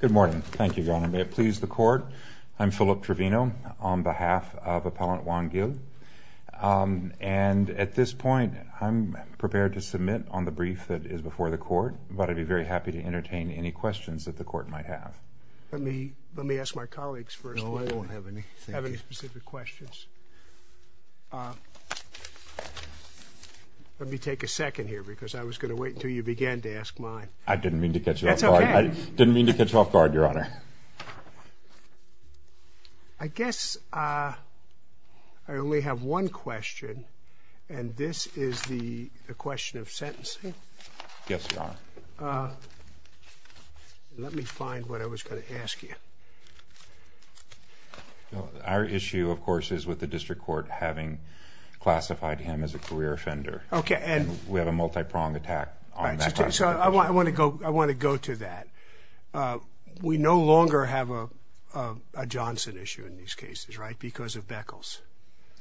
Good morning. Thank you, Your Honor. May it please the court, I'm Philip Trevino on behalf of Appellant Juan Gil, and at this point I'm prepared to submit on the brief that is before the court, but I'd be very happy to entertain any questions that the court might have. Let me let me ask my colleagues first. No, I don't have any. I have specific questions. Let me take a second here because I was going to wait until you began to ask mine. I didn't mean to catch you off guard. That's okay. I didn't mean to catch you off guard, Your Honor. I guess I only have one question, and this is the question of sentencing. Yes, Your Honor. Let me find what I was going to ask you. Our issue, of course, is with the district court having classified him as a career offender. Okay. And we have a multi-pronged attack. I want to go to that. We no longer have a Johnson issue in these cases, right, because of Beckles.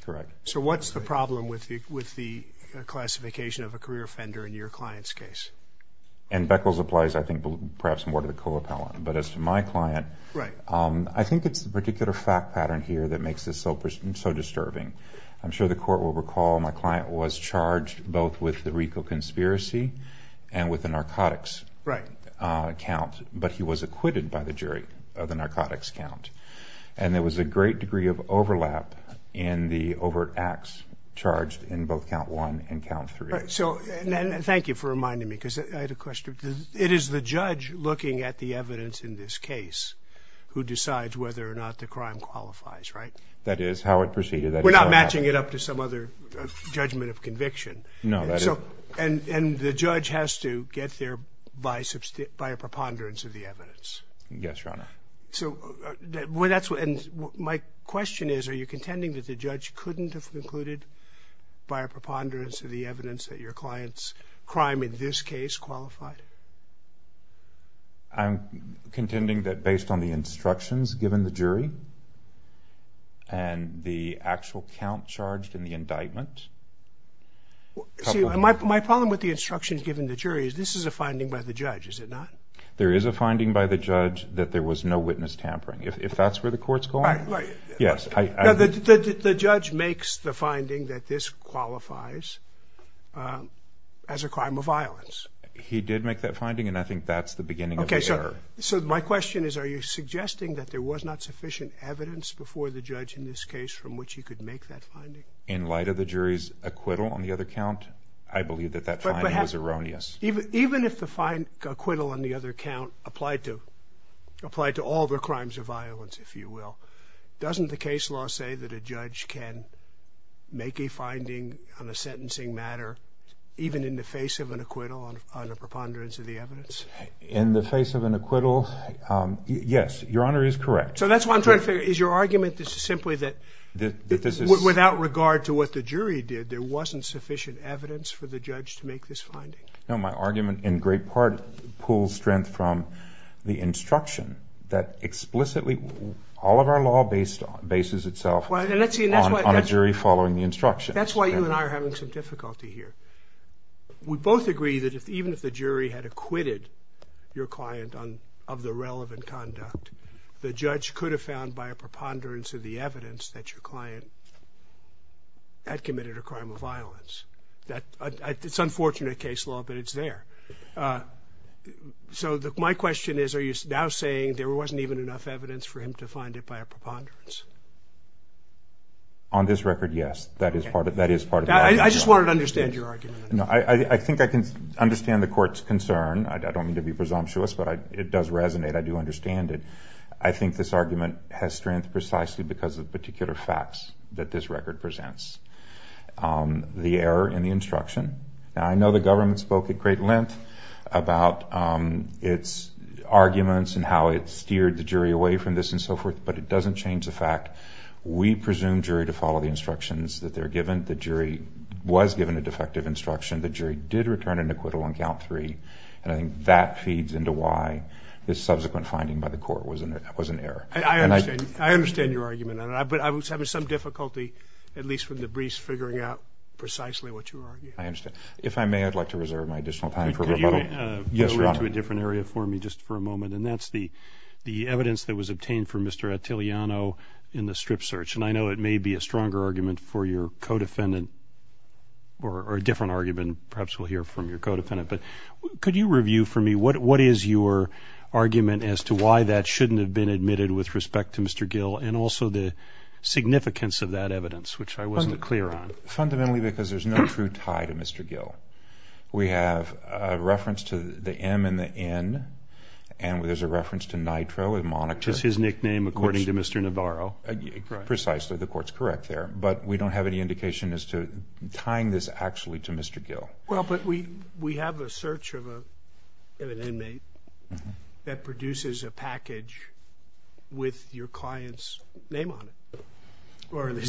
Correct. So what's the problem with the classification of a career offender in your client's case? And Beckles applies, I think, perhaps more to the co-appellant, but as to my client, I think it's the particular fact pattern here that makes this so disturbing. I'm sure the court will recall my client was charged both with the RICO conspiracy and with the narcotics count, but he was acquitted by the jury of the narcotics count, and there was a great degree of overlap in the overt acts charged in both count one and count three. So, and thank you for reminding me, because I had a question. It is the judge looking at the evidence in this case who decides whether or not the crime qualifies, right? That is how it proceeded. We're not matching it up to some other judgment of conviction. No. And the judge has to get there by a preponderance of the evidence. Yes, Your Honor. So my question is, are you contending that the judge couldn't have concluded by a preponderance of the evidence that your client's crime in this case qualified? I'm contending that based on the instructions given the jury and the actual count charged in the indictment. See, my problem with the instructions given the jury is this is a finding by the judge, is it not? There is a finding by the judge that there was no witness tampering. If that's where the court's going, yes. The judge makes the finding that this qualifies as a crime of violence. He did make that finding, and I think that's the beginning of the error. Okay, so my question is, are you suggesting that there was not sufficient evidence before the judge in this case from which he could make that finding? In light of the jury's acquittal on the other count, I believe that that finding was erroneous. Even if the acquittal on the other count applied to all the crimes of violence, if you will, doesn't the case law say that a judge can make a finding on a sentencing matter even in the face of an acquittal on a preponderance of the evidence? In the face of an acquittal, yes, Your Honor is correct. So that's why I'm trying to figure, is your argument simply that without regard to what the jury did, there wasn't sufficient evidence for the judge to make this finding? No, my argument in great part pulls strength from the instruction that explicitly all of our law bases itself on a jury following the instruction. That's why you and I are having some difficulty here. We both agree that even if the jury had acquitted your client of the preponderance of the evidence, that your client had committed a crime of violence. It's unfortunate case law, but it's there. So my question is, are you now saying there wasn't even enough evidence for him to find it by a preponderance? On this record, yes. That is part of it. I just wanted to understand your argument. I think I can understand the court's concern. I don't mean to be presumptuous, but it does resonate. I do understand it. I think this argument has strength precisely because of particular facts that this record presents. The error in the instruction. I know the government spoke at great length about its arguments and how it steered the jury away from this and so forth, but it doesn't change the fact we presume jury to follow the instructions that they're given. The jury was given a defective instruction. The jury did return an acquittal on count three, and I think that feeds into why this subsequent finding by the court was an error. I understand your argument, but I was having some difficulty, at least from the briefs, figuring out precisely what you were arguing. I understand. If I may, I'd like to reserve my additional time for rebuttal. Yes, Your Honor. Could you go into a different area for me just for a moment? And that's the evidence that was obtained for Mr. Attiliano in the strip search, and I know it may be a stronger argument for your co-defendant or a different argument. Perhaps we'll hear from your co-defendant, but could you give us an overview for me? What is your argument as to why that shouldn't have been admitted with respect to Mr. Gill and also the significance of that evidence, which I wasn't clear on? Fundamentally, because there's no true tie to Mr. Gill. We have a reference to the M and the N, and there's a reference to Nitro, a moniker. Which is his nickname, according to Mr. Navarro. Precisely. The court's correct there, but we don't have any indication as to tying this actually to Mr. Gill. Well, but we have a search of an inmate that produces a package with your client's name on it. With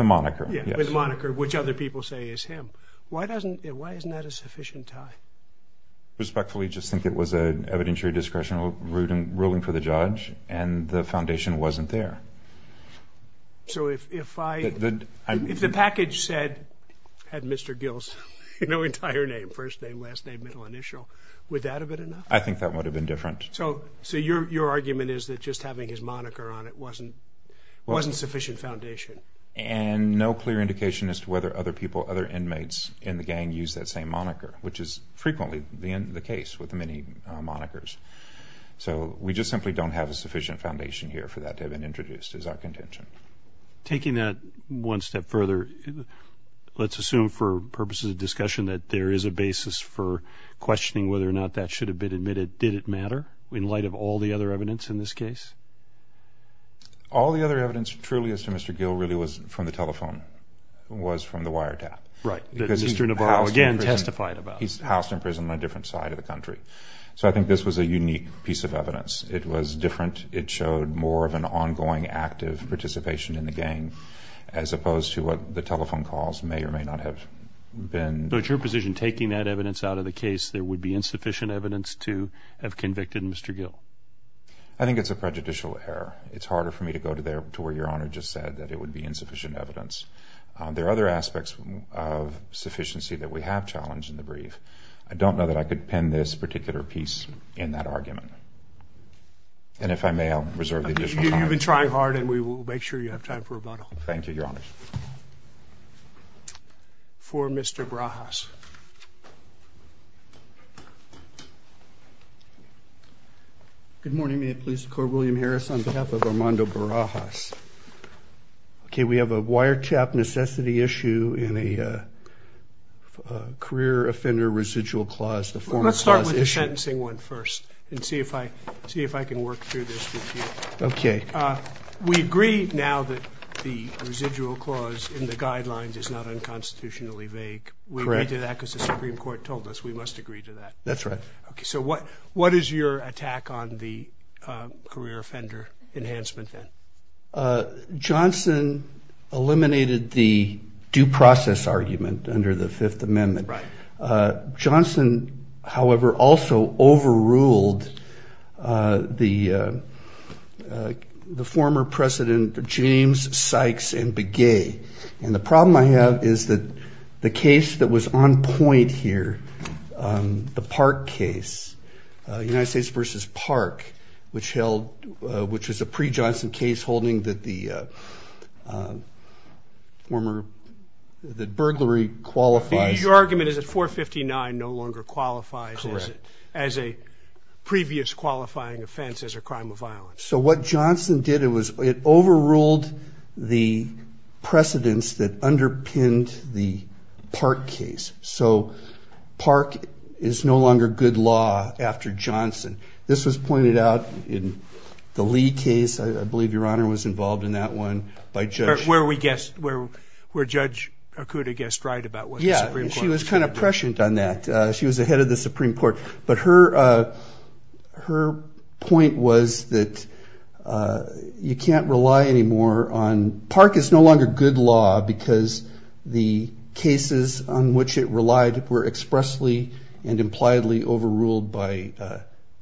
a moniker. With a moniker, which other people say is him. Why isn't that a sufficient tie? I respectfully just think it was an evidentiary discretion of ruling for the judge, and the foundation wasn't there. So if the package had Mr. Gill's entire name, first name, last name, middle initial, would that have been enough? I think that would have been different. So your argument is that just having his moniker on it wasn't sufficient foundation? And no clear indication as to whether other people, other inmates in the gang, use that same moniker. Which is frequently the case with many monikers. So we just simply don't have a sufficient foundation here for that to have been introduced as our contention. Taking that one step further, let's assume for purposes of discussion that there is a basis for questioning whether or not that should have been admitted. Did it matter? In light of all the other evidence in this case? All the other evidence truly as to Mr. Gill really was from the telephone, was from the wiretap. Right. Mr. Navarro again testified about it. He's housed in prison on a different side of the country. So I think this was a unique piece of evidence. It was different. It showed more of an ongoing active participation in the gang, as opposed to what the telephone calls may or may not have been. So it's your position taking that evidence out of the case there would be insufficient evidence to have convicted Mr. Gill? I think it's a prejudicial error. It's harder for me to go to where Your Honor just said that it would be insufficient evidence. There are other aspects of sufficiency that we have challenged in the brief. I don't know that I could pin this particular piece in that argument. And if I may, I'll reserve the additional time. You've been trying hard and we will make sure you have time for Mr. Barajas. Good morning. May it please the Court, William Harris on behalf of Armando Barajas. Okay, we have a wiretap necessity issue in a career offender residual clause. Let's start with the sentencing one first and see if I see if I can work through this. Okay. We agree now that the residual clause in the guidelines is not unconstitutionally vague. We agree to that because the Supreme Court told us we must agree to that. That's right. Okay, so what what is your attack on the career offender enhancement then? Johnson eliminated the due process argument under the Fifth Amendment. Johnson, however, also overruled the the former President James Sykes and Begay. And the problem I have is that the case that was on point here, the Park case, United States versus Park, which held which is a Your argument is that 459 no longer qualifies as a previous qualifying offense as a crime of violence. So what Johnson did it was it overruled the precedents that underpinned the Park case. So Park is no longer good law after Johnson. This was pointed out in the Lee case. I believe Your Honor was involved in that one by where we guess where where Judge Akuta guessed right about what she was kind of prescient on that. She was ahead of the Supreme Court. But her her point was that you can't rely anymore on Park is no longer good law because the cases on which it relied were expressly and impliedly overruled by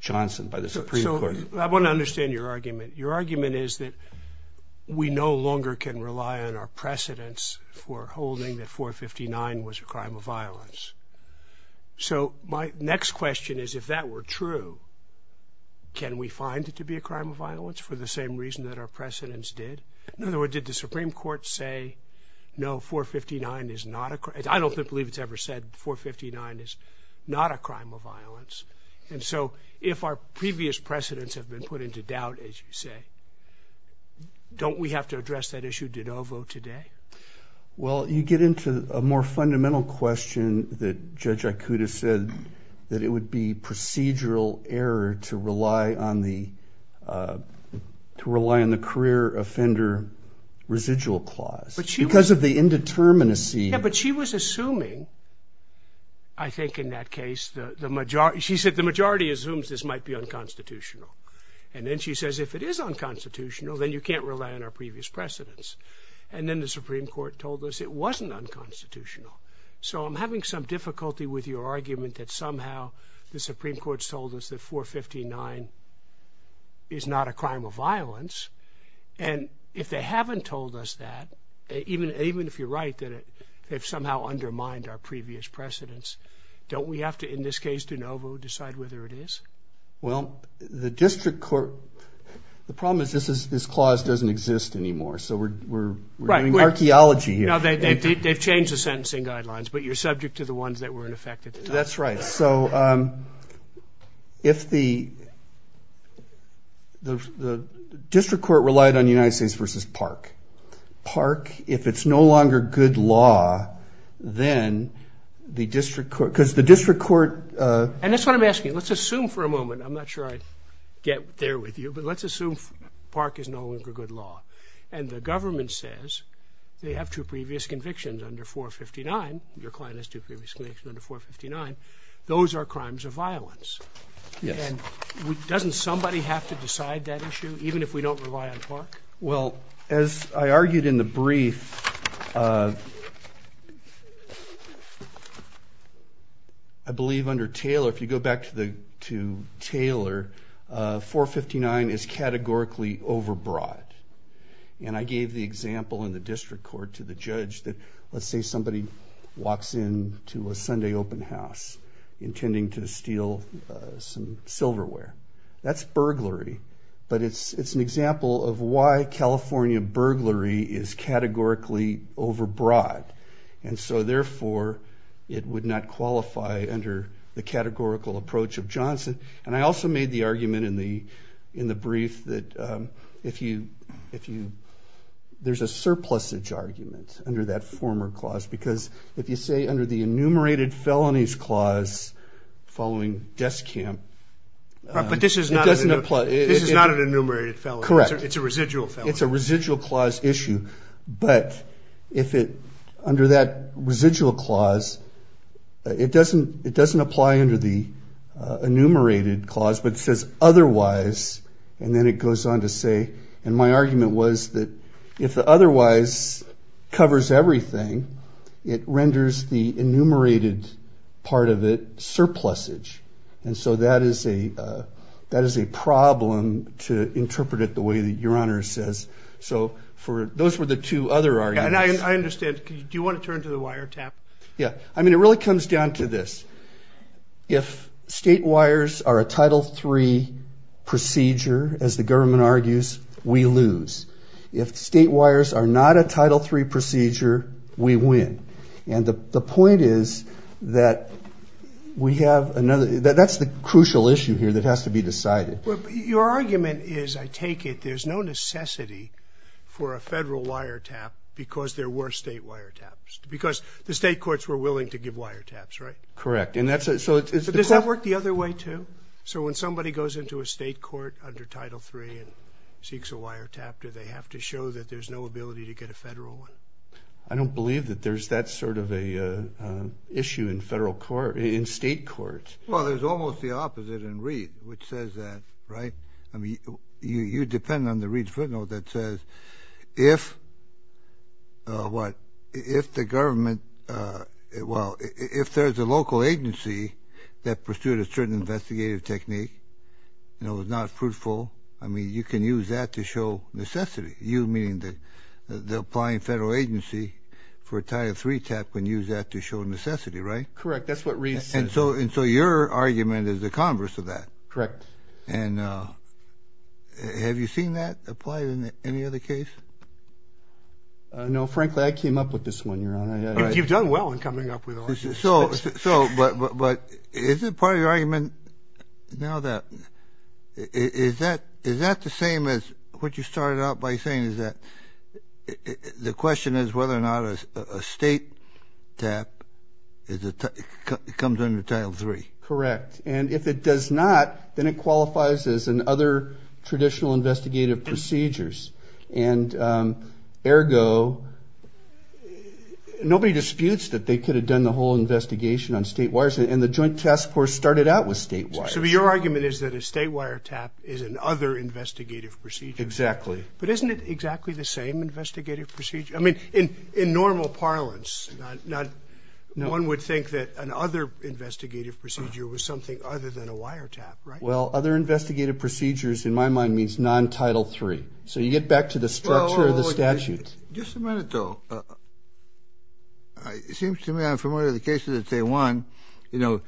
Johnson by the Supreme Court. I want to understand your argument. Your argument is that we no longer can rely on our precedents for holding that 459 was a crime of violence. So my next question is, if that were true, can we find it to be a crime of violence for the same reason that our precedents did? In other words, did the Supreme Court say no, 459 is not a I don't believe it's ever said 459 is not a crime of violence. And so if our previous precedents have been put into doubt, as you say, don't we have to address that issue de novo today? Well, you get into a more fundamental question that Judge Akuta said that it would be procedural error to rely on the to rely on the career offender residual clause because of the indeterminacy. But she was assuming, I think in that case, the majority, she said the majority assumes this might be unconstitutional. And then she says, if it is unconstitutional, then you can't rely on our previous precedents. And then the Supreme Court told us it wasn't unconstitutional. So I'm having some difficulty with your argument that somehow the Supreme Court sold us that 459 is not a crime of violence. And if they haven't told us that, even even if you're right, that it they've somehow undermined our previous precedents, don't we have to, in this case de novo, decide whether it is? Well, the district court, the problem is this is this clause doesn't exist anymore. So we're doing archaeology here. Now they've changed the sentencing guidelines, but you're subject to the ones that were in effect at the time. That's right. So if the the district court relied on United States versus Park. Park, if it's no longer good law, then the district court, because the district court. And that's what I'm asking. Let's assume for a moment. I'm not sure I get there with you, but let's assume Park is no longer good law. And the government says they have two previous convictions under 459. Your client has two previous convictions under 459. Those are crimes of violence. And doesn't somebody have to decide that issue, even if we don't rely on Park? Well, as I argued in the brief, I believe under Taylor, if you go back to the to Taylor, 459 is categorically overbroad. And I gave the example in the district court to the judge that let's say somebody walks in to a Sunday open house intending to steal some silverware. That's burglary. But it's an example of why California burglary is categorically overbroad. And so therefore it would not qualify under the categorical approach of Johnson. And I also made the argument in the in the brief that if you if you there's a surplusage argument under that former clause, because if you say under the enumerated felonies clause following desk camp, but this is not doesn't this is not an enumerated felon. Correct. It's a residual. It's a residual clause issue. But if it under that residual clause, it doesn't it doesn't apply under the enumerated clause, but says otherwise. And then it goes on to say, and my argument was that if the otherwise covers everything, it renders the enumerated part of it surplusage. And so that is a that is a problem to interpret it the way that your honor says. So for those were the two other arguments. And I understand. Do you want to turn to the wiretap? Yeah. I mean, it really comes down to this. If state wires are a title three procedure, as the government argues, we lose. If state wires are not a title three procedure, we win. And the point is that we have another that's the crucial issue here that has to be decided. Your argument is, I take it, there's no necessity for a federal wiretap because there were state wiretaps because the state courts were willing to give wiretaps, right? Correct. And that's it. So does that work the other way, too? So when somebody goes into a state court under title three and seeks a wiretap, do they have to show that there's no ability to get a federal one? I don't believe that there's that sort of a issue in federal court, in state courts. Well, there's almost the opposite in Reed, which says that, right? I mean, you depend on the Reed's footnote that says if, what, if the government, well, if there's a local agency that pursued a certain investigative technique and it was not fruitful, I mean, you can use that to show necessity. You, meaning the applying federal agency, for a title three tap can use that to show necessity, right? Correct. That's what Reed says. And so, and so your argument is the converse of that. Correct. And have you seen that applied in any other case? No, frankly, I came up with this one, Your Honor. You've done well in coming up with all this. So, so, but is it part of your argument now that, is that, is that the same as what you started out by saying, is that the question is whether or not a state tap is a, comes under title three? Correct. And if it does not, then it qualifies as an other traditional investigative procedures. And ergo, nobody disputes that they could have done the whole investigation on state wires, and the joint task force started out with state wires. So your argument is that a state wire tap is an other investigative procedure. Exactly. But isn't it exactly the same investigative procedure? I mean, in, in normal parlance, not, not, one would think that an other investigative procedure was something other than a wire tap, right? Well, other investigative procedures, in my mind, means non-title three. So you get back to the structure of the statute. Just a minute, though. It seems to me I'm familiar with the case of the Taiwan, you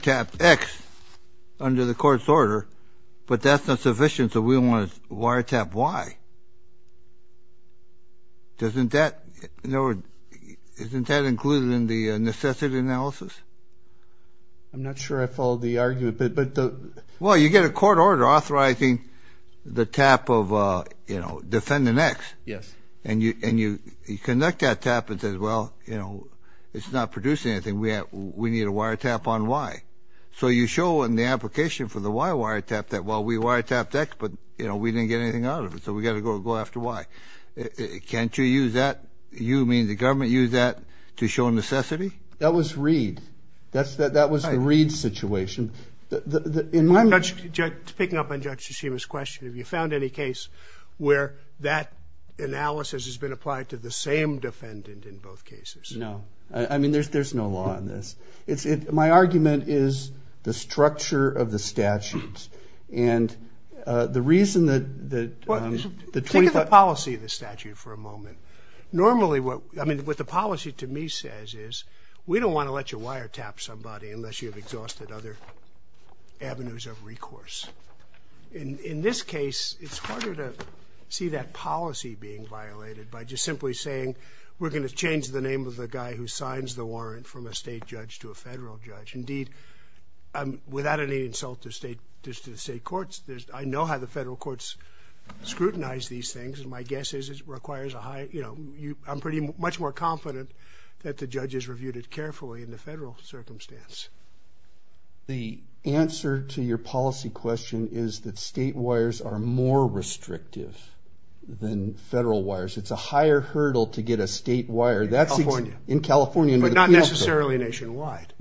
tap X under the court's order, but that's not sufficient, so we want to wire tap Y. Doesn't that, in other words, isn't that included in the necessity analysis? I'm not sure I followed the argument, but, but the... Well, you get a court order authorizing the tap of, you know, defendant X. Yes. And you, and you, you conduct that tap and says, well, you know, it's not producing anything. We have, we need a wire tap on Y. So you show in the application for the Y wire tap that, well, we wire tapped X, but, you know, we didn't get anything out of it, so we got to go, go after Y. Can't you use that? You mean the government used that to show necessity? That was Reed. That's the, that was the Reed situation. In my mind... Judge, picking up on Judge Tsushima's question, have you found any case where that analysis has been applied to the same defendant in both cases? No. I mean, there's, there's no law in this. It's, it, my argument is the structure of the statutes, and the reason that, that... Think of the policy of the statute for a moment. Normally, what, I mean, what the policy to me says is, we don't want to let you wire tap somebody unless you have exhausted other avenues of recourse. In, in this case, it's harder to see that policy being violated by just simply saying, we're going to change the name of the guy who signs the warrant from a state judge to a federal judge. Indeed, without any insult to state, just to the state courts, there's, I know how the federal courts scrutinize these things, and my guess is it requires a high, you know, you, I'm pretty much more confident that the judges reviewed it carefully in the federal circumstance. The answer to your policy question is that state wires are more restrictive than federal wires. It's a higher hurdle to get a state wire. That's in California. But not necessarily nationwide.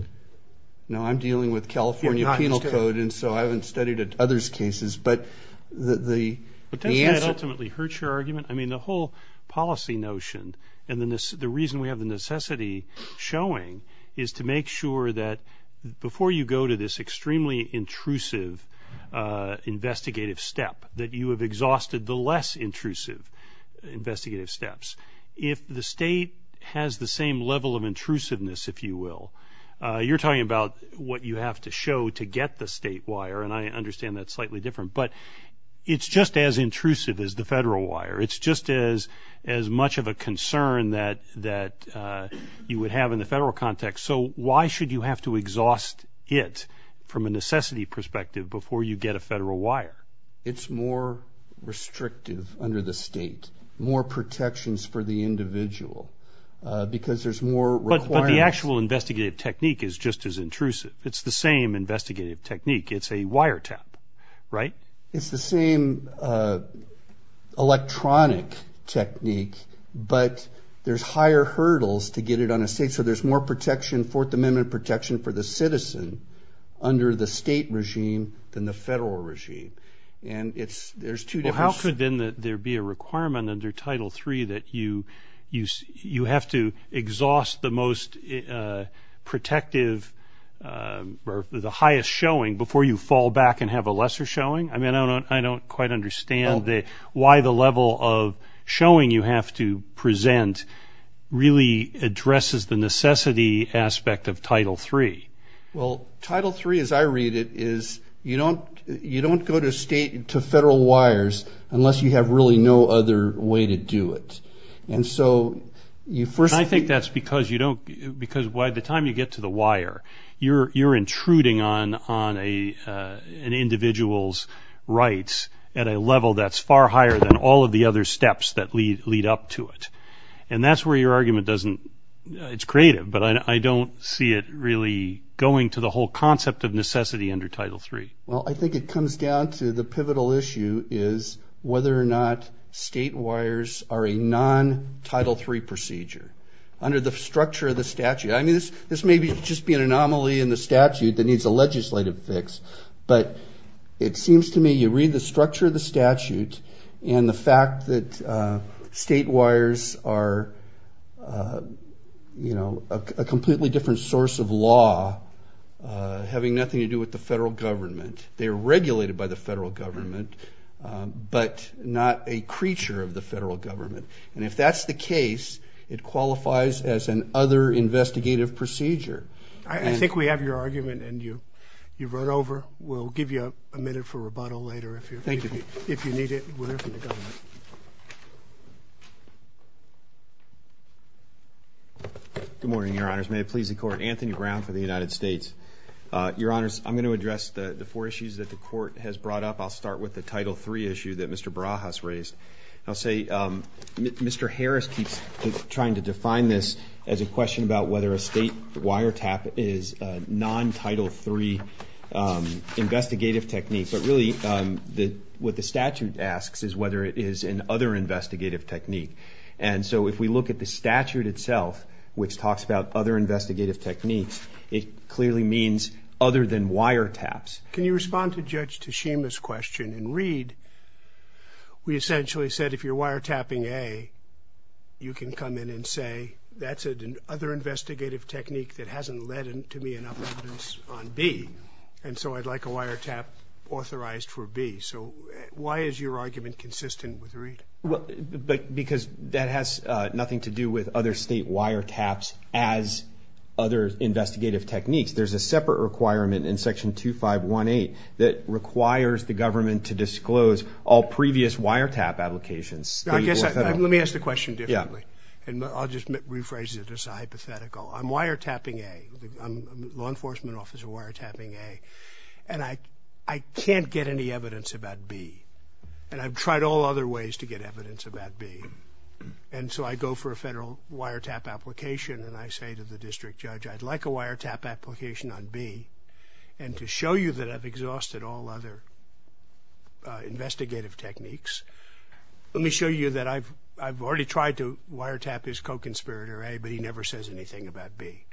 No, I'm dealing with California penal code, and so I haven't studied other's cases, but the, the, the answer... But doesn't that ultimately hurt your argument? I mean, the whole policy notion, and the necessity, the reason we have the necessity showing, is to make sure that before you go to this extremely intrusive investigative step, that you have exhausted the less intrusive investigative steps. If the state has the same level of intrusiveness, if you will, you're talking about what you have to show to get the state wire, and I understand that's slightly different, but it's just as intrusive as the federal wire. It's just as, as much of a concern that, that you would have in the federal context. So why should you have to exhaust it from a necessity perspective before you get a federal wire? It's more restrictive under the state, more protections for the individual, because there's more... But, but the actual investigative technique is just as intrusive. It's the same investigative technique. It's a wire tap, right? It's the same electronic technique, but there's higher hurdles to get it on the state, so there's more protection, Fourth Amendment protection, for the citizen under the state regime than the federal regime, and it's, there's two different... Well, how could then that there be a requirement under Title III that you, you, you have to exhaust the most protective, or the highest showing, before you fall back and have a lesser showing? I mean, I don't, I don't quite understand that, why the level of showing you have to present really addresses the necessity aspect of Title III. Well, Title III, as I read it, is you don't, you don't go to state, to federal wires, unless you have really no other way to do it, and so you first... I think that's because you don't, because by the time you get to the wire, you're, you're intruding on, on a, an individual's rights at a level that's far higher than all of the other steps that lead, lead up to it, and that's where your argument doesn't... It's creative, but I don't see it really going to the whole concept of necessity under Title III. Well, I think it comes down to the pivotal issue is whether or not state wires are a non-Title III procedure, under the structure of the statute. I mean, this, this may be, just be an anomaly in the statute that needs a legislative fix, but it seems to me you read the statute, and the fact that state wires are, you know, a completely different source of law, having nothing to do with the federal government. They're regulated by the federal government, but not a creature of the federal government, and if that's the case, it qualifies as an other investigative procedure. I, I think we have your argument, and you, you've run over. We'll give you a minute for your argument. Good morning, your honors. May it please the court. Anthony Brown for the United States. Your honors, I'm going to address the, the four issues that the court has brought up. I'll start with the Title III issue that Mr. Barajas raised. I'll say, Mr. Harris keeps trying to define this as a question about whether a state wire tap is a non-Title III investigative technique, but really, the, what the statute asks is whether it is an other investigative technique, and so if we look at the statute itself, which talks about other investigative techniques, it clearly means other than wire taps. Can you respond to Judge Tashima's question and read, we essentially said if you're wire tapping A, you can come in and say, that's an other investigative technique that hasn't led to me enough evidence on B, and so I'd like a wire tap authorized for B. So why is your argument consistent with Reid? Well, but, because that has nothing to do with other state wire taps as other investigative techniques. There's a separate requirement in Section 2518 that requires the government to disclose all previous wire tap applications. I guess, let me ask the question differently, and I'll just rephrase it as a hypothetical. I'm wire tapping A. I'm law enforcement officer wire tapping A, and I, I can't get any evidence about B, and I've tried all other ways to get evidence about B, and so I go for a federal wire tap application, and I say to the district judge, I'd like a wire tap application on B, and to show you that I've exhausted all other investigative techniques, let me show you that I've, I've already tried to wire tap his co-conspirator A, but he never says anything about B.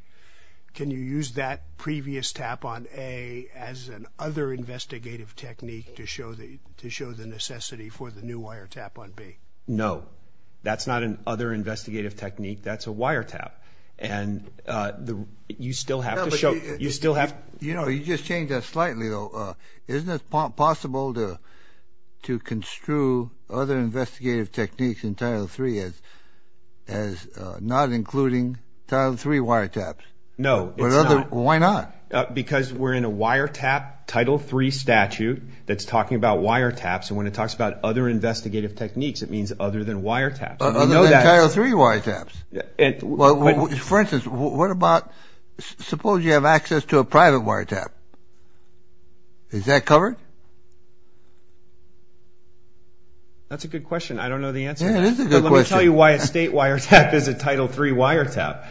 Can you use that previous tap on A as an other investigative technique to show the, to show the necessity for the new wire tap on B? No, that's not an other investigative technique, that's a wire tap, and the, you still have to show, you still have, you know, you just change that slightly though. Isn't it possible to, to not including Title III wire taps? No, it's not. Why not? Because we're in a wire tap Title III statute that's talking about wire taps, and when it talks about other investigative techniques, it means other than wire taps. Other than Title III wire taps. Well, for instance, what about, suppose you have access to a private wire tap, is that covered? That's a good question, I don't know the answer. Yeah, it is a good question. I'll tell you why a state wire tap is a Title III wire tap.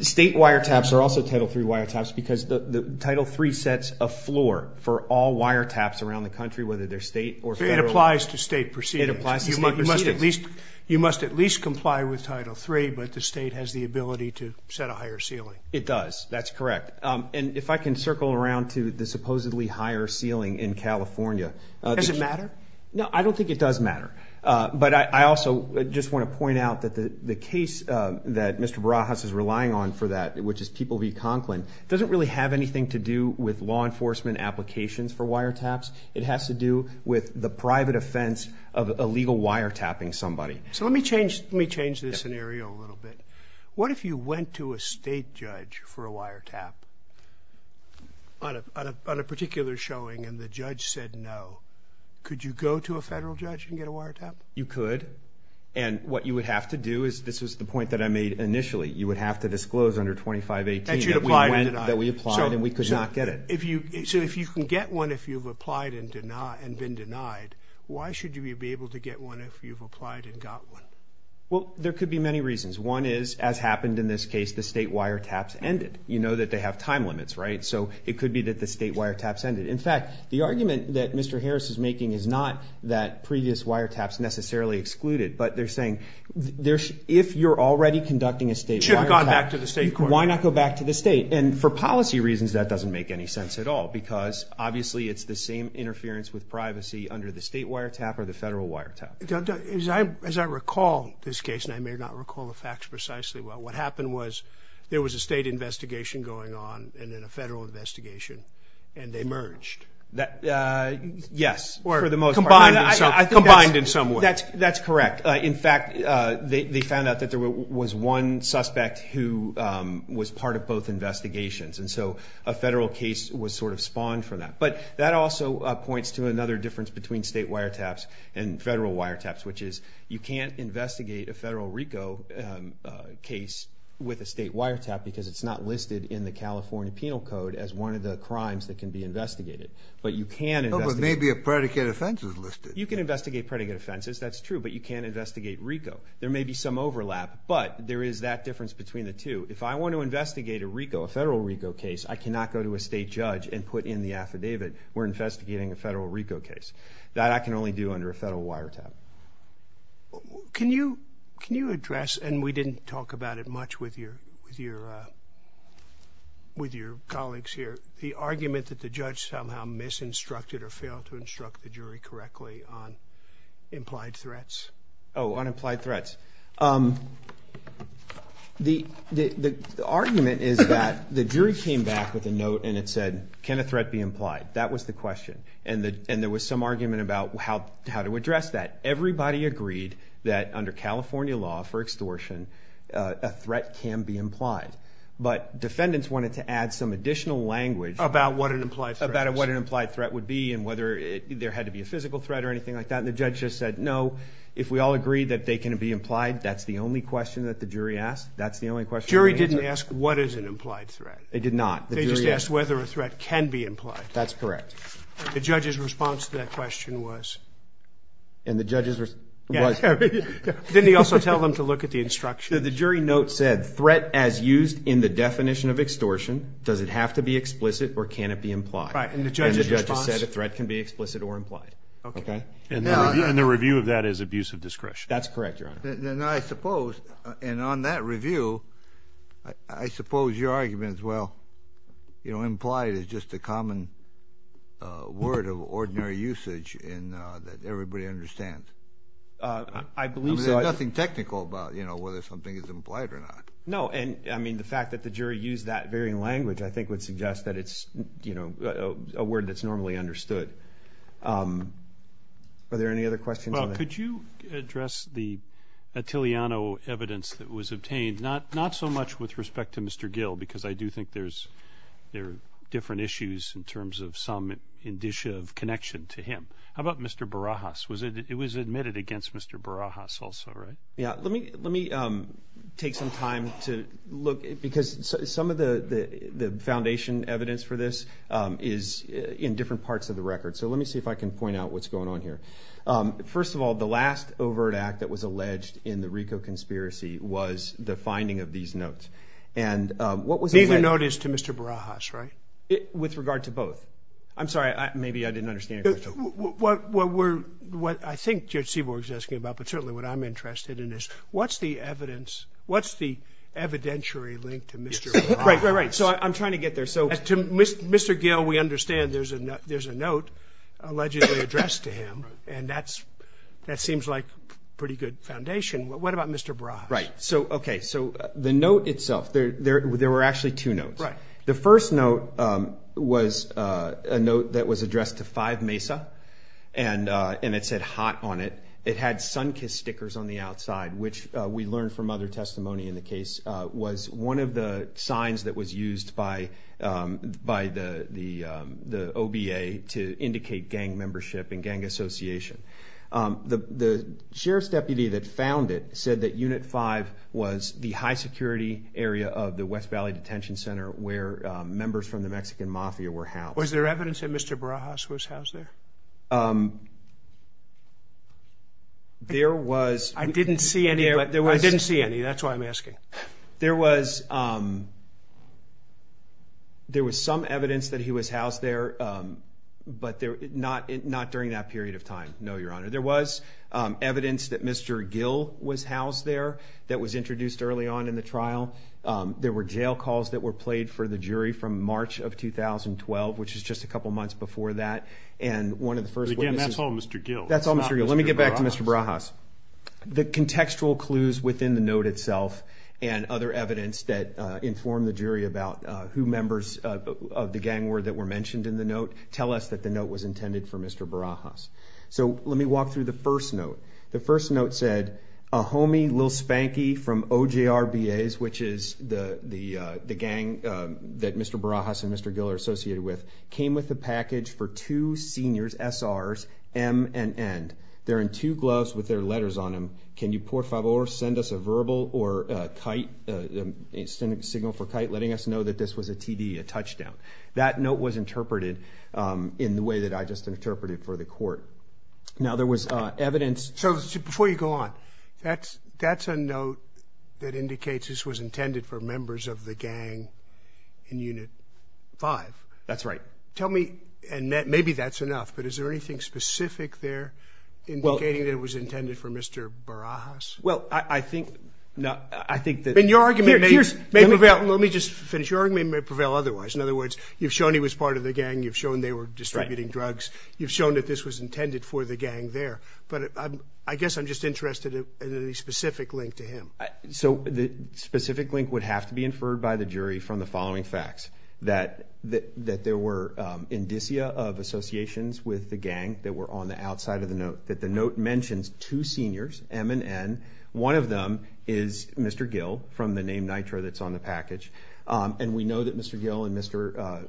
State wire taps are also Title III wire taps because the Title III sets a floor for all wire taps around the country, whether they're state or federal. So it applies to state procedures. It applies to state procedures. You must at least, you must at least comply with Title III, but the state has the ability to set a higher ceiling. It does, that's correct, and if I can circle around to the supposedly higher ceiling in California. Does it just want to point out that the the case that Mr. Barajas is relying on for that, which is People v. Conklin, doesn't really have anything to do with law enforcement applications for wire taps. It has to do with the private offense of illegal wire tapping somebody. So let me change, let me change this scenario a little bit. What if you went to a state judge for a wire tap on a particular showing and the judge said no, could you go to a federal judge and get a wire tap? You could, and what you would have to do is, this was the point that I made initially, you would have to disclose under 2518 that we applied and we could not get it. So if you can get one if you've applied and been denied, why should you be able to get one if you've applied and got one? Well, there could be many reasons. One is, as happened in this case, the state wire taps ended. You know that they have time limits, right? So it could be that the state wire taps ended. In fact, the argument that Mr. Harris is making is not that previous wire taps necessarily excluded, but they're saying there's, if you're already conducting a state wire tap, why not go back to the state? And for policy reasons, that doesn't make any sense at all because obviously it's the same interference with privacy under the state wire tap or the federal wire tap. As I recall this case, and I may not recall the facts precisely well, what happened was there was a state investigation going on and then a combined in some way. That's correct. In fact, they found out that there was one suspect who was part of both investigations. And so a federal case was sort of spawned for that. But that also points to another difference between state wire taps and federal wire taps, which is you can't investigate a federal RICO case with a state wire tap because it's not listed in the California Penal Code as one of the crimes that can be investigated. But you can investigate. There may be a predicate offenses listed. You can investigate predicate offenses. That's true, but you can't investigate RICO. There may be some overlap, but there is that difference between the two. If I want to investigate a RICO, a federal RICO case, I cannot go to a state judge and put in the affidavit, we're investigating a federal RICO case. That I can only do under a federal wire tap. Can you, can you address, and we didn't talk about it much with your, with your, with your colleagues here, the argument that the judge somehow misinstructed or failed to instruct the jury correctly on implied threats? Oh, on implied threats. The, the, the argument is that the jury came back with a note and it said, can a threat be implied? That was the question. And the, and there was some argument about how, how to address that. Everybody agreed that under California law for extortion, a threat can be implied. But defendants wanted to add some additional language. About what an implied threat? About what an implied threat would be and whether it, there had to be a physical threat or anything like that. And the judge just said, no, if we all agree that they can be implied, that's the only question that the jury asked. That's the only question. The jury didn't ask what is an implied threat. They did not. They just asked whether a threat can be implied. That's correct. The judge's response to that question was. And the judge's response was. Didn't he also tell them to look at the instructions? The jury note said, threat as used in the definition of extortion. Does it have to be explicit or can it be implied? Right. And the judge's response. And the judge said a threat can be explicit or implied. Okay. Okay. And the, and the review of that is abuse of discretion. That's correct, your honor. Then, then I suppose, and on that review, I, I suppose your argument is, well, you know, implied is just a common word of ordinary usage in that everybody understands. I believe so. I mean, there's nothing technical about, you know, whether something is implied or not. No, and I mean, the fact that the jury used that very language, I think, would suggest that it's, you know, a word that's normally understood. Are there any other questions? Well, could you address the Attiliano evidence that was obtained? Not, not so much with respect to Mr. Gill, because I do think there's, there are different issues in terms of some indicia of connection to him. How about Mr. Barajas? Was it, it was admitted against Mr. Barajas also, right? Yeah. Let me, let me take some time to look, because some of the, the foundation evidence for this is in different parts of the record. So let me see if I can point out what's going on here. First of all, the last overt act that was alleged in the RICO conspiracy was the finding of these notes. And what was... Neither note is to Mr. Barajas, right? With regard to both. I'm sorry, maybe I didn't understand your question. What, what we're, what I think Judge Seaborg's asking about, but certainly what I'm interested in is, what's the evidence, what's the evidentiary link to Mr. Barajas? Right, right, right. So I'm trying to get there. So to Mr. Gill, we understand there's a note allegedly addressed to him, and that's, that seems like a pretty good foundation. What about Mr. Barajas? Right. So, okay. So the note itself, there were actually two notes. Right. The first note was a note that was addressed to 5 Mesa, and it said hot on it. It had sunkiss stickers on the outside, which we learned from other testimony in the case, was one of the signs that was used by the OBA to indicate gang membership and gang association. The sheriff's deputy that found it said that Unit 5 was the high security area of the West Valley Detention Center where members from the house there. There was... I didn't see any, but there was... I didn't see any. That's why I'm asking. There was some evidence that he was housed there, but not during that period of time. No, Your Honor. There was evidence that Mr. Gill was housed there, that was introduced early on in the trial. There were jail calls that were played for the jury from March of 2012, which is just a couple months before that, and one of the first witnesses... But again, that's all Mr. Gill. That's all Mr. Gill. Let me get back to Mr. Barajas. The contextual clues within the note itself, and other evidence that informed the jury about who members of the gang were that were mentioned in the note, tell us that the note was intended for Mr. Barajas. So let me walk through the first note. The first note said, a homie, Lil Spanky from OJRBAs, which is the gang that Mr. Barajas and Mr. Gill are associated with, came with a package for two seniors, SRs, M and N. They're in two gloves with their letters on them. Can you, por favor, send us a verbal or a kite, a signal for kite, letting us know that this was a TD, a touchdown. That note was Now there was evidence... So before you go on, that's a note that indicates this was intended for members of the gang in Unit 5. That's right. Tell me, and maybe that's enough, but is there anything specific there indicating that it was intended for Mr. Barajas? Well, I think that... In your argument, let me just finish. Your argument may prevail otherwise. In other words, you've shown he was part of the gang. You've shown they were distributing drugs. You've shown that this was intended for the gang there, but I guess I'm just interested in any specific link to him. So the specific link would have to be inferred by the jury from the following facts, that there were indicia of associations with the gang that were on the outside of the note, that the note mentions two seniors, M and N. One of them is Mr. Gill, from the name Nitro that's on the package, and we know that Mr. Gill and Mr.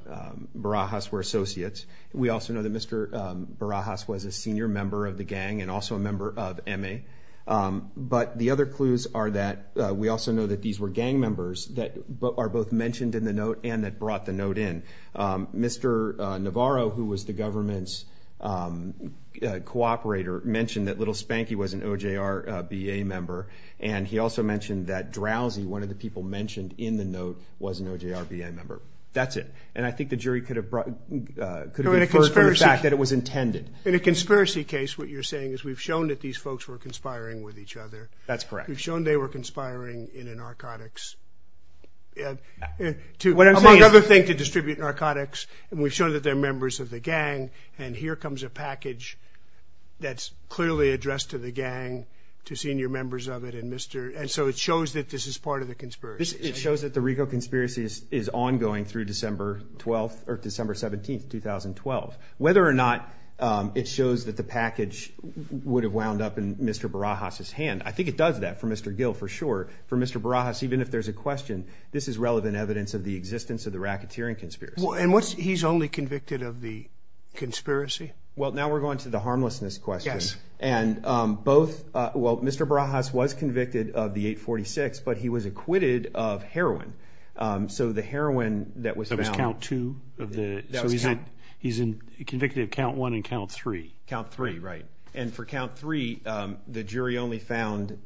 Barajas were associates. We also know that Mr. Barajas was a senior member of the gang and also a member of M.A. But the other clues are that we also know that these were gang members that are both mentioned in the note and that brought the note in. Mr. Navarro, who was the government's cooperator, mentioned that Little Spanky was an OJRBA member, and he also mentioned that Drowsy, one of the people mentioned in the note, was an OJRBA member. That's it. And I think the jury could have inferred from the fact that it was intended. In a conspiracy case, what you're saying is we've shown that these folks were conspiring with each other. That's correct. We've shown they were conspiring in narcotics, among other things to distribute narcotics, and we've shown that they're members of the gang, and here comes a package that's clearly addressed to the gang, to senior members of it, and so it shows that this is part of the conspiracy. It shows that the Rigo conspiracy is ongoing through December 12th, or December 17th, 2012. Whether or not it shows that the package would have wound up in Mr. Barajas's hand, I think it does that for Mr. Gill, for sure. For Mr. Barajas, even if there's a question, this is relevant evidence of the existence of the racketeering conspiracy. And he's only convicted of the conspiracy? Well, now we're going to the harmlessness question. Yes. And both, well, Mr. Barajas was convicted of the 846, but he was acquitted of heroin. So the heroin that was found... That was count two of the... So he's convicted of count one and count three. Count three, right. And for count three, the jury only found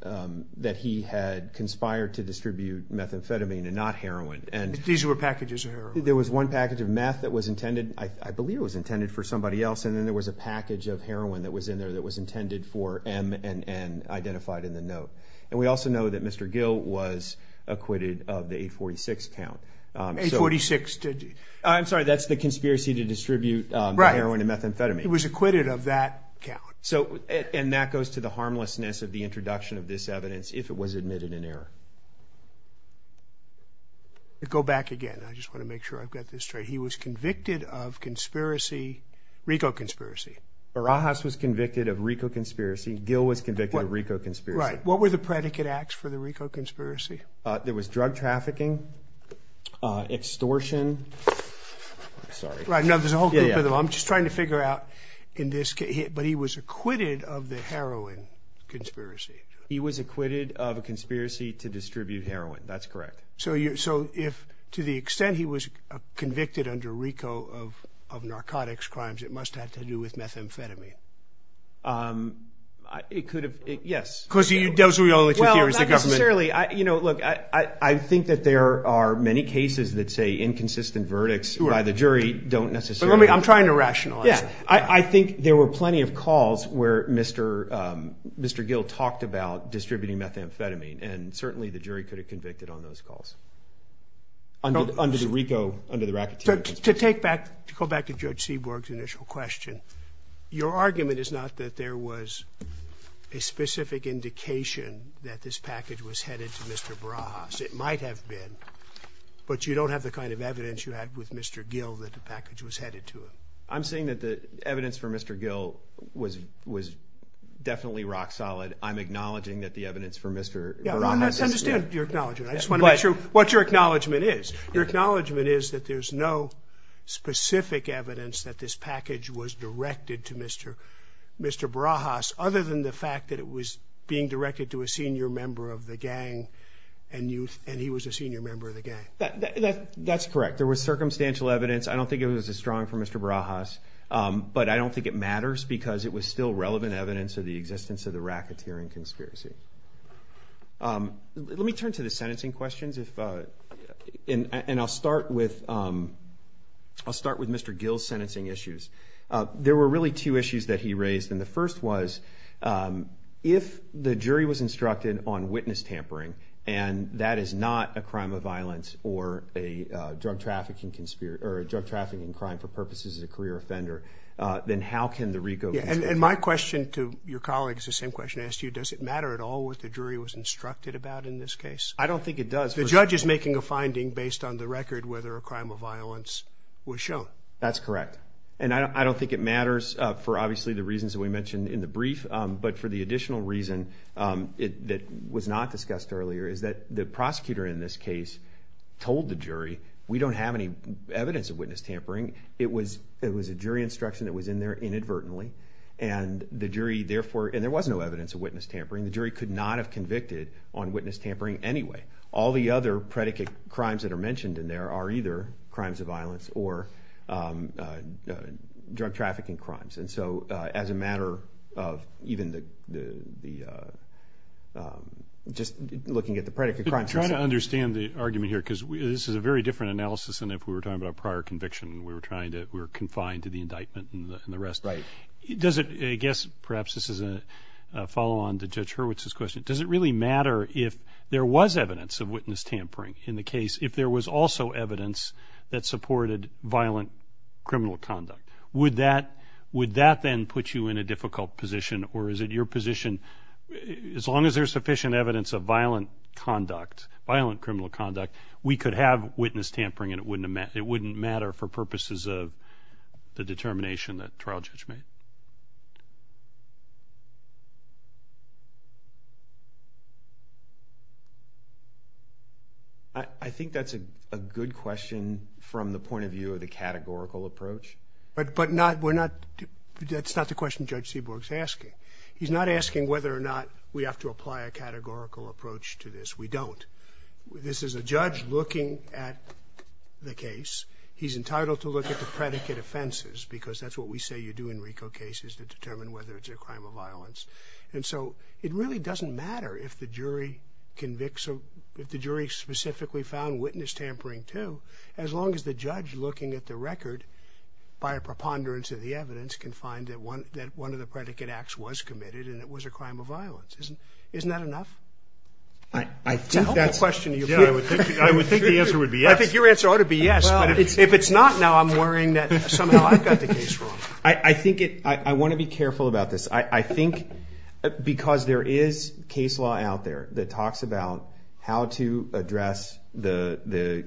that he had conspired to distribute methamphetamine and not heroin, and... These were packages of heroin? There was one package of meth that was intended, I believe it was intended for somebody else, and then there was a package of heroin that was in there that was intended for M and identified in the note. And we also know that Mr. Gill was acquitted of the 846 count. 846 to... I'm sorry, that's the conspiracy to distribute heroin and methamphetamine. He was acquitted of that count. And that goes to the harmlessness of the introduction of this evidence if it was admitted in error. Go back again, I just wanna make sure I've got this straight. He was convicted of conspiracy, RICO conspiracy. Barajas was convicted of RICO conspiracy, Gill was convicted of RICO conspiracy. Right. What were the predicate acts for the RICO conspiracy? There was drug trafficking. Extortion. I'm sorry. Right, no, there's a whole group of them. I'm just trying to figure out in this case, but he was acquitted of the heroin conspiracy. He was acquitted of a conspiracy to distribute heroin, that's correct. So if to the extent he was convicted under RICO of narcotics crimes, it must have to do with methamphetamine. It could have, yes. Because those are the only two theories the government... Well, not necessarily. Look, I think that there are many cases that say inconsistent verdicts by the jury don't necessarily... I'm trying to rationalize it. Yeah. I think there were plenty of calls where Mr. Gill talked about distributing methamphetamine, and certainly the jury could have convicted on those calls under the RICO, under the racketeering conspiracy. To take back, to go back to Judge Seaborg's initial question, your argument is not that there was a specific indication that this package was headed to Mr. Barajas. It might have been, but you don't have the kind of evidence you had with Mr. Gill that the package was headed to him. I'm saying that the evidence for Mr. Gill was definitely rock solid. I'm acknowledging that the evidence for Mr. Barajas... Yeah, Ron, let's understand your acknowledgement. I just want to make sure what your acknowledgement is. Your acknowledgement is that there's no specific evidence that this package was directed to Mr. Barajas, other than the fact that it was being directed to a senior member of the gang, and he was a senior member of the gang. That's correct. There was circumstantial evidence. I don't think it was as strong for Mr. Barajas, but I don't think it matters because it was still relevant evidence of the existence of the racketeering conspiracy. Let me turn to the sentencing questions, and I'll start with Mr. Gill's sentencing issues. There were really two issues that he raised, and the first was, if the jury was instructed on witness tampering, and that is not a crime of violence or a drug trafficking crime for purposes of a career offender, then how can the RICO... And my question to your colleague is the same question I asked you. Does it matter at all what the jury was instructed about in this case? I don't think it matters for obviously the reasons that we mentioned in the brief, but for the additional reason that was not discussed earlier is that the prosecutor in this case told the jury, we don't have any evidence of witness tampering. It was a jury instruction that was in there inadvertently, and there was no evidence of witness tampering. The jury could not have convicted on witness tampering anyway. All the other predicate crimes that are mentioned in there are either crimes of violence or drug trafficking crimes. And so as a matter of even the... Just looking at the predicate crimes... I'm trying to understand the argument here, because this is a very different analysis than if we were talking about prior conviction. We were trying to... We were confined to the indictment and the rest. Right. Does it... I guess perhaps this is a follow-on to Judge Hurwitz's question. Does it really matter if there was evidence of witness tampering in the case if there was also evidence that supported violent criminal conduct? Would that then put you in a difficult position? Or is it your position, as long as there's sufficient evidence of violent conduct, violent criminal conduct, we could have witness tampering and it wouldn't matter for purposes of the determination that trial judge made? I think that's a good question from the point of view of the categorical approach. But not... We're not... That's not the question Judge Seaborg's asking. He's not asking whether or not we have to apply a categorical approach to this. We don't. This is a judge looking at the case. He's entitled to look at the predicate offenses, because that's what we say you do in RICO cases, to determine whether it's a crime of violence. And so it really doesn't matter if the jury convicts... If the jury specifically found witness tampering, too, as long as the judge looking at the record, by a preponderance of the evidence, can find that one of the predicate acts was committed and it was a crime of violence. Isn't that enough? I don't... That's the question of your... Yeah, I would think the answer would be yes. I think your answer ought to be yes, but if it's not, I'm worrying that somehow I've got the case wrong. I think it... I wanna be careful about this. I think because there is case law out there that talks about how to address the...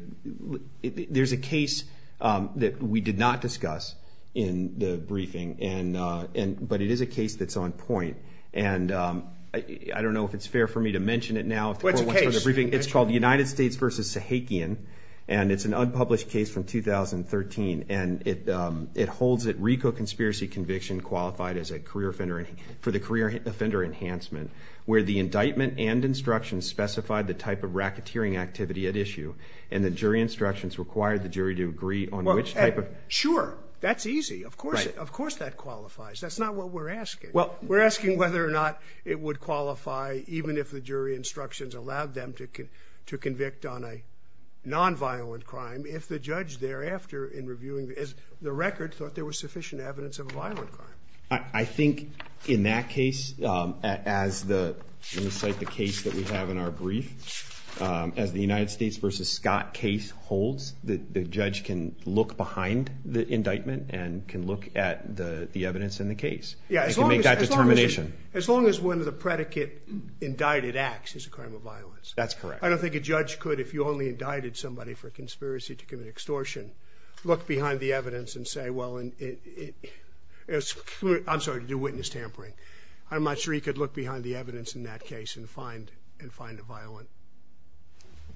There's a case that we did not discuss in the briefing, and... But it is a case that's on point. And I don't know if it's fair for me to mention it now. What's the case? It's called United States versus Sahakian, and it's an unpublished case from 2013. And it holds that RICO conspiracy conviction qualified as a career offender... For the career offender enhancement, where the indictment and instructions specified the type of racketeering activity at issue, and the jury instructions required the jury to agree on which type of... Sure, that's easy. Of course that qualifies. That's not what we're asking. We're asking whether or not it would qualify, even if the jury instructions allowed them to convict on a non violent crime, if the judge thereafter in reviewing the record thought there was sufficient evidence of a violent crime. I think in that case, as the... Let me cite the case that we have in our brief. As the United States versus Scott case holds, the judge can look behind the indictment and can look at the evidence in the case. He can make that determination. Yeah, as long as one of the predicate indicted acts is a crime of violence. That's correct. I don't think a judge could, if you only indicted somebody for conspiracy to commit extortion, look behind the evidence and say, well... I'm sorry, to do witness tampering. I'm not sure he could look behind the evidence in that case and find a violent...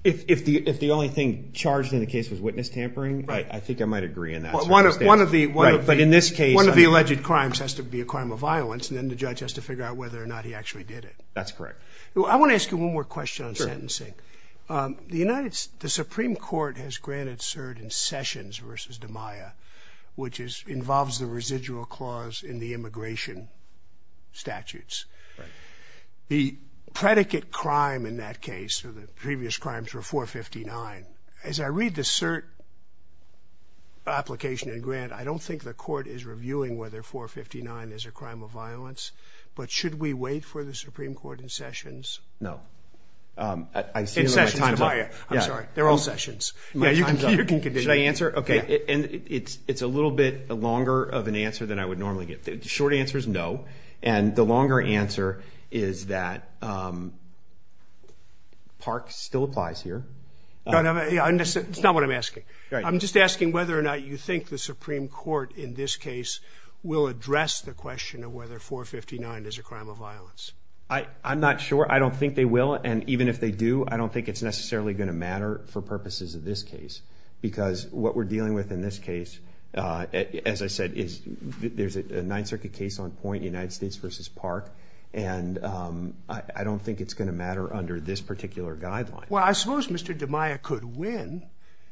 If the only thing charged in the case was witness tampering, I think I might agree on that. One of the... But in this case... One of the alleged crimes has to be a crime of violence, and then the judge has to figure out whether or not he actually did it. That's correct. I wanna ask you one more question on sentencing. The United... The Supreme Court has granted cert in Sessions versus DiMaia, which involves the residual clause in the immigration statutes. The predicate crime in that case, or the previous crimes, were 459. As I read the cert application and grant, I don't think the court is reviewing whether 459 is a crime of violence, but should we wait for the Supreme Court in Sessions? No. I see... In Sessions, DiMaia. I'm sorry. They're all Sessions. Yeah, you can continue. Should I answer? Okay. And it's a little bit longer of an answer than I would normally get. Short answer is no. And the longer answer is that Park still applies here. No, no, no. It's not what I'm asking. I'm just asking whether or not you think the Supreme Court, in this case, will address the question of whether 459 is a crime of violence. I'm not sure. I don't think they will. And even if they do, I don't think it's necessarily gonna matter for purposes of this case. Because what we're dealing with in this case, as I said, is there's a Ninth Circuit case on point, United States versus Park, and I don't think it's gonna matter under this particular guideline. Well, I suppose Mr. DiMaia could win...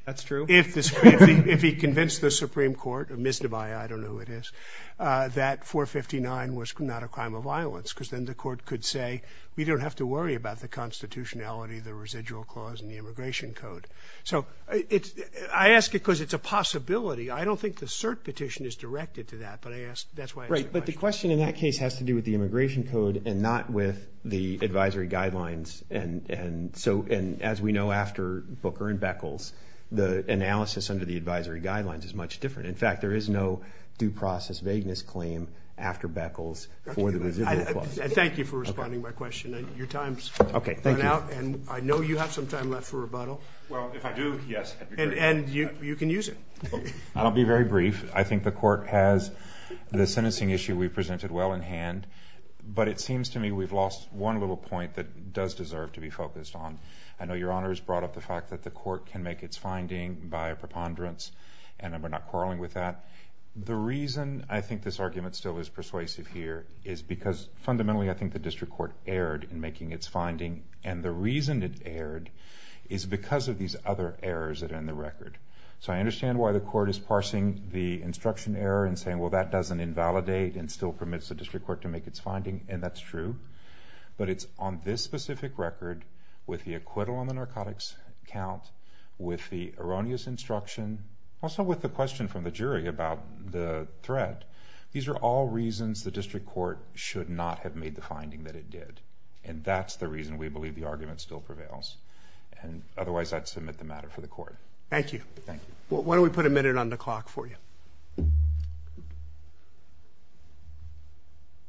That's true. If he convinced the Supreme Court, or Ms. DiMaia, I don't know who it is, that 459 was not a crime of violence, because then the court could say, we don't have to worry about the constitutionality, the residual clause, and the immigration code. So I ask it because it's a possibility. I don't think the cert petition is directed to that, but I ask... That's why I ask the question. Right, but the question in that case has to do with the immigration code and not the advisory guidelines. And as we know after Booker and Beckles, the analysis under the advisory guidelines is much different. In fact, there is no due process vagueness claim after Beckles for the residual clause. Thank you for responding to my question. Your time's run out, and I know you have some time left for rebuttal. Well, if I do, yes. And you can use it. I'll be very brief. I think the court has the sentencing issue we presented well in hand, but it seems to me we've lost one little point that does deserve to be focused on. I know Your Honor has brought up the fact that the court can make its finding by a preponderance, and we're not quarreling with that. The reason I think this argument still is persuasive here is because fundamentally, I think the district court erred in making its finding, and the reason it erred is because of these other errors that are in the record. So I understand why the court is parsing the instruction error and saying, well, that doesn't invalidate and still but it's on this specific record with the acquittal on the narcotics count, with the erroneous instruction, also with the question from the jury about the threat. These are all reasons the district court should not have made the finding that it did, and that's the reason we believe the argument still prevails. And otherwise, I'd submit the matter for the court. Thank you. Thank you. Why don't we put a minute on the clock for you?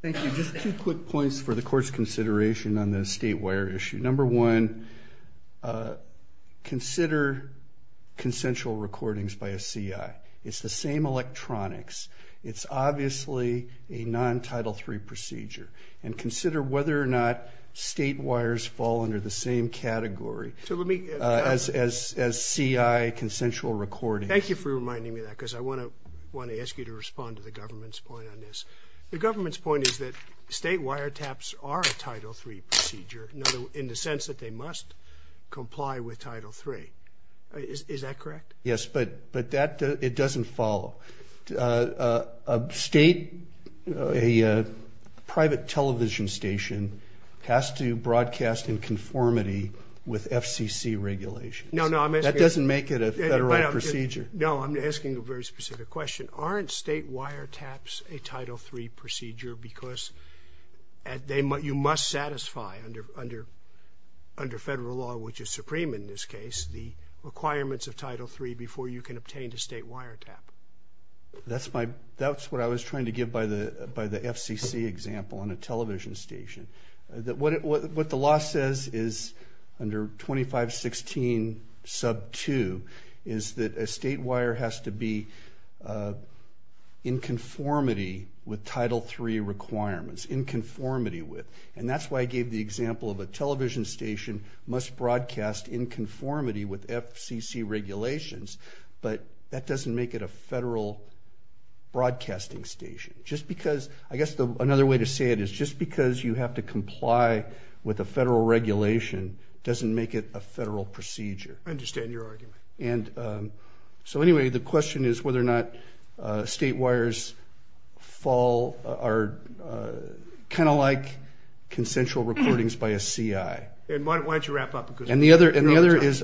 Thank you. Just two quick points for the court's consideration on the state wire issue. Number one, consider consensual recordings by a C.I. It's the same electronics. It's obviously a non-Title III procedure, and consider whether or not state wires fall under the same category as C.I. consensual recordings. Thank you for reminding me because I want to ask you to respond to the government's point on this. The government's point is that state wire taps are a Title III procedure in the sense that they must comply with Title III. Is that correct? Yes, but it doesn't follow. A private television station has to broadcast in conformity with FCC regulations. That doesn't make it a procedure. No, I'm asking a very specific question. Aren't state wire taps a Title III procedure because you must satisfy under federal law, which is supreme in this case, the requirements of Title III before you can obtain a state wire tap? That's what I was trying to give by the FCC example on a that a state wire has to be in conformity with Title III requirements, in conformity with, and that's why I gave the example of a television station must broadcast in conformity with FCC regulations, but that doesn't make it a federal broadcasting station. I guess another way to say it is just because you have to comply with a federal regulation doesn't make it a federal procedure. I understand your argument. And so anyway, the question is whether or not state wires fall are kind of like consensual recordings by a CI. And why don't you wrap up? And the other is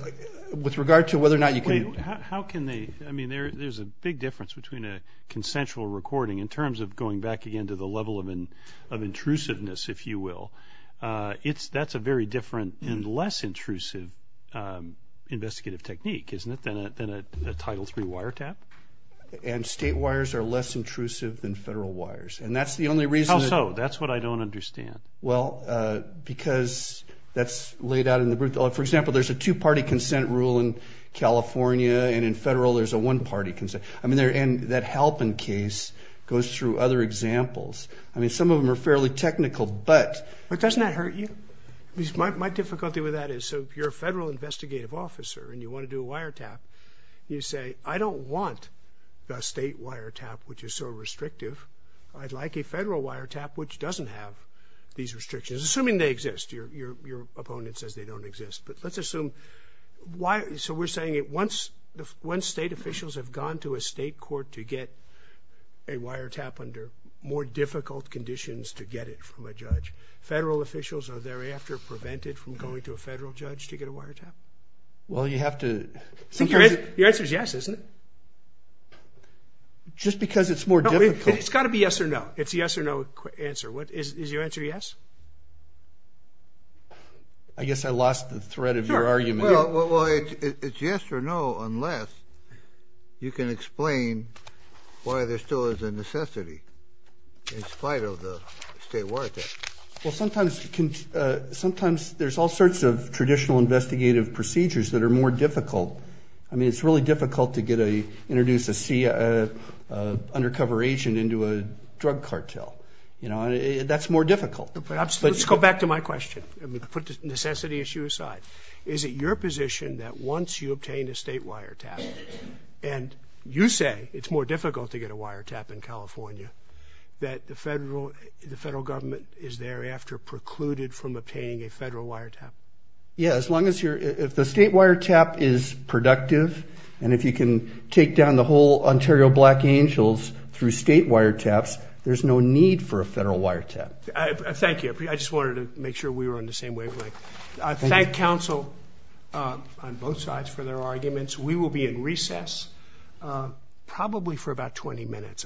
with regard to whether or not you can... Wait, how can they? I mean, there's a big difference between a consensual recording in terms of going back again to the level of intrusiveness, if you will. That's a very different and less intrusive investigative technique, isn't it, than a Title III wire tap? And state wires are less intrusive than federal wires, and that's the only reason... How so? That's what I don't understand. Well, because that's laid out in the... For example, there's a two-party consent rule in California, and in federal there's a one-party consent. I mean, and that Halpin case goes through other examples. I mean, some of them are fairly technical. But doesn't that hurt you? My difficulty with that is, so if you're a federal investigative officer and you want to do a wire tap, you say, I don't want a state wire tap, which is so restrictive. I'd like a federal wire tap, which doesn't have these restrictions, assuming they exist. Your opponent says they don't exist. But let's assume... So we're saying once state officials have gone to a state court to get a wire tap under more difficult conditions to get it from a judge, federal officials are thereafter prevented from going to a federal judge to get a wire tap? Well, you have to... Your answer is yes, isn't it? Just because it's more difficult... It's got to be yes or no. It's a yes or no answer. Is your answer yes? I guess I lost the thread of your argument. Well, it's yes or no unless you can explain why there still is a necessity in spite of the state wire tap. Well, sometimes there's all sorts of traditional investigative procedures that are more difficult. I mean, it's really difficult to introduce an undercover agent into a drug cartel. You know, that's more difficult. Let's go back to my question. Put the necessity issue aside. Is it your position that once you obtain a state wire tap and you say it's more difficult to get a wire tap in California, that the federal government is thereafter precluded from obtaining a federal wire tap? Yeah, as long as the state wire tap is productive and if you can take down the whole Ontario Black Angels through state wire taps, there's no need for a federal wire tap. Thank you. I just wanted to make sure we were on the same wavelength. I thank counsel on both sides for their arguments. We will be in recess probably for about 20 minutes, I think.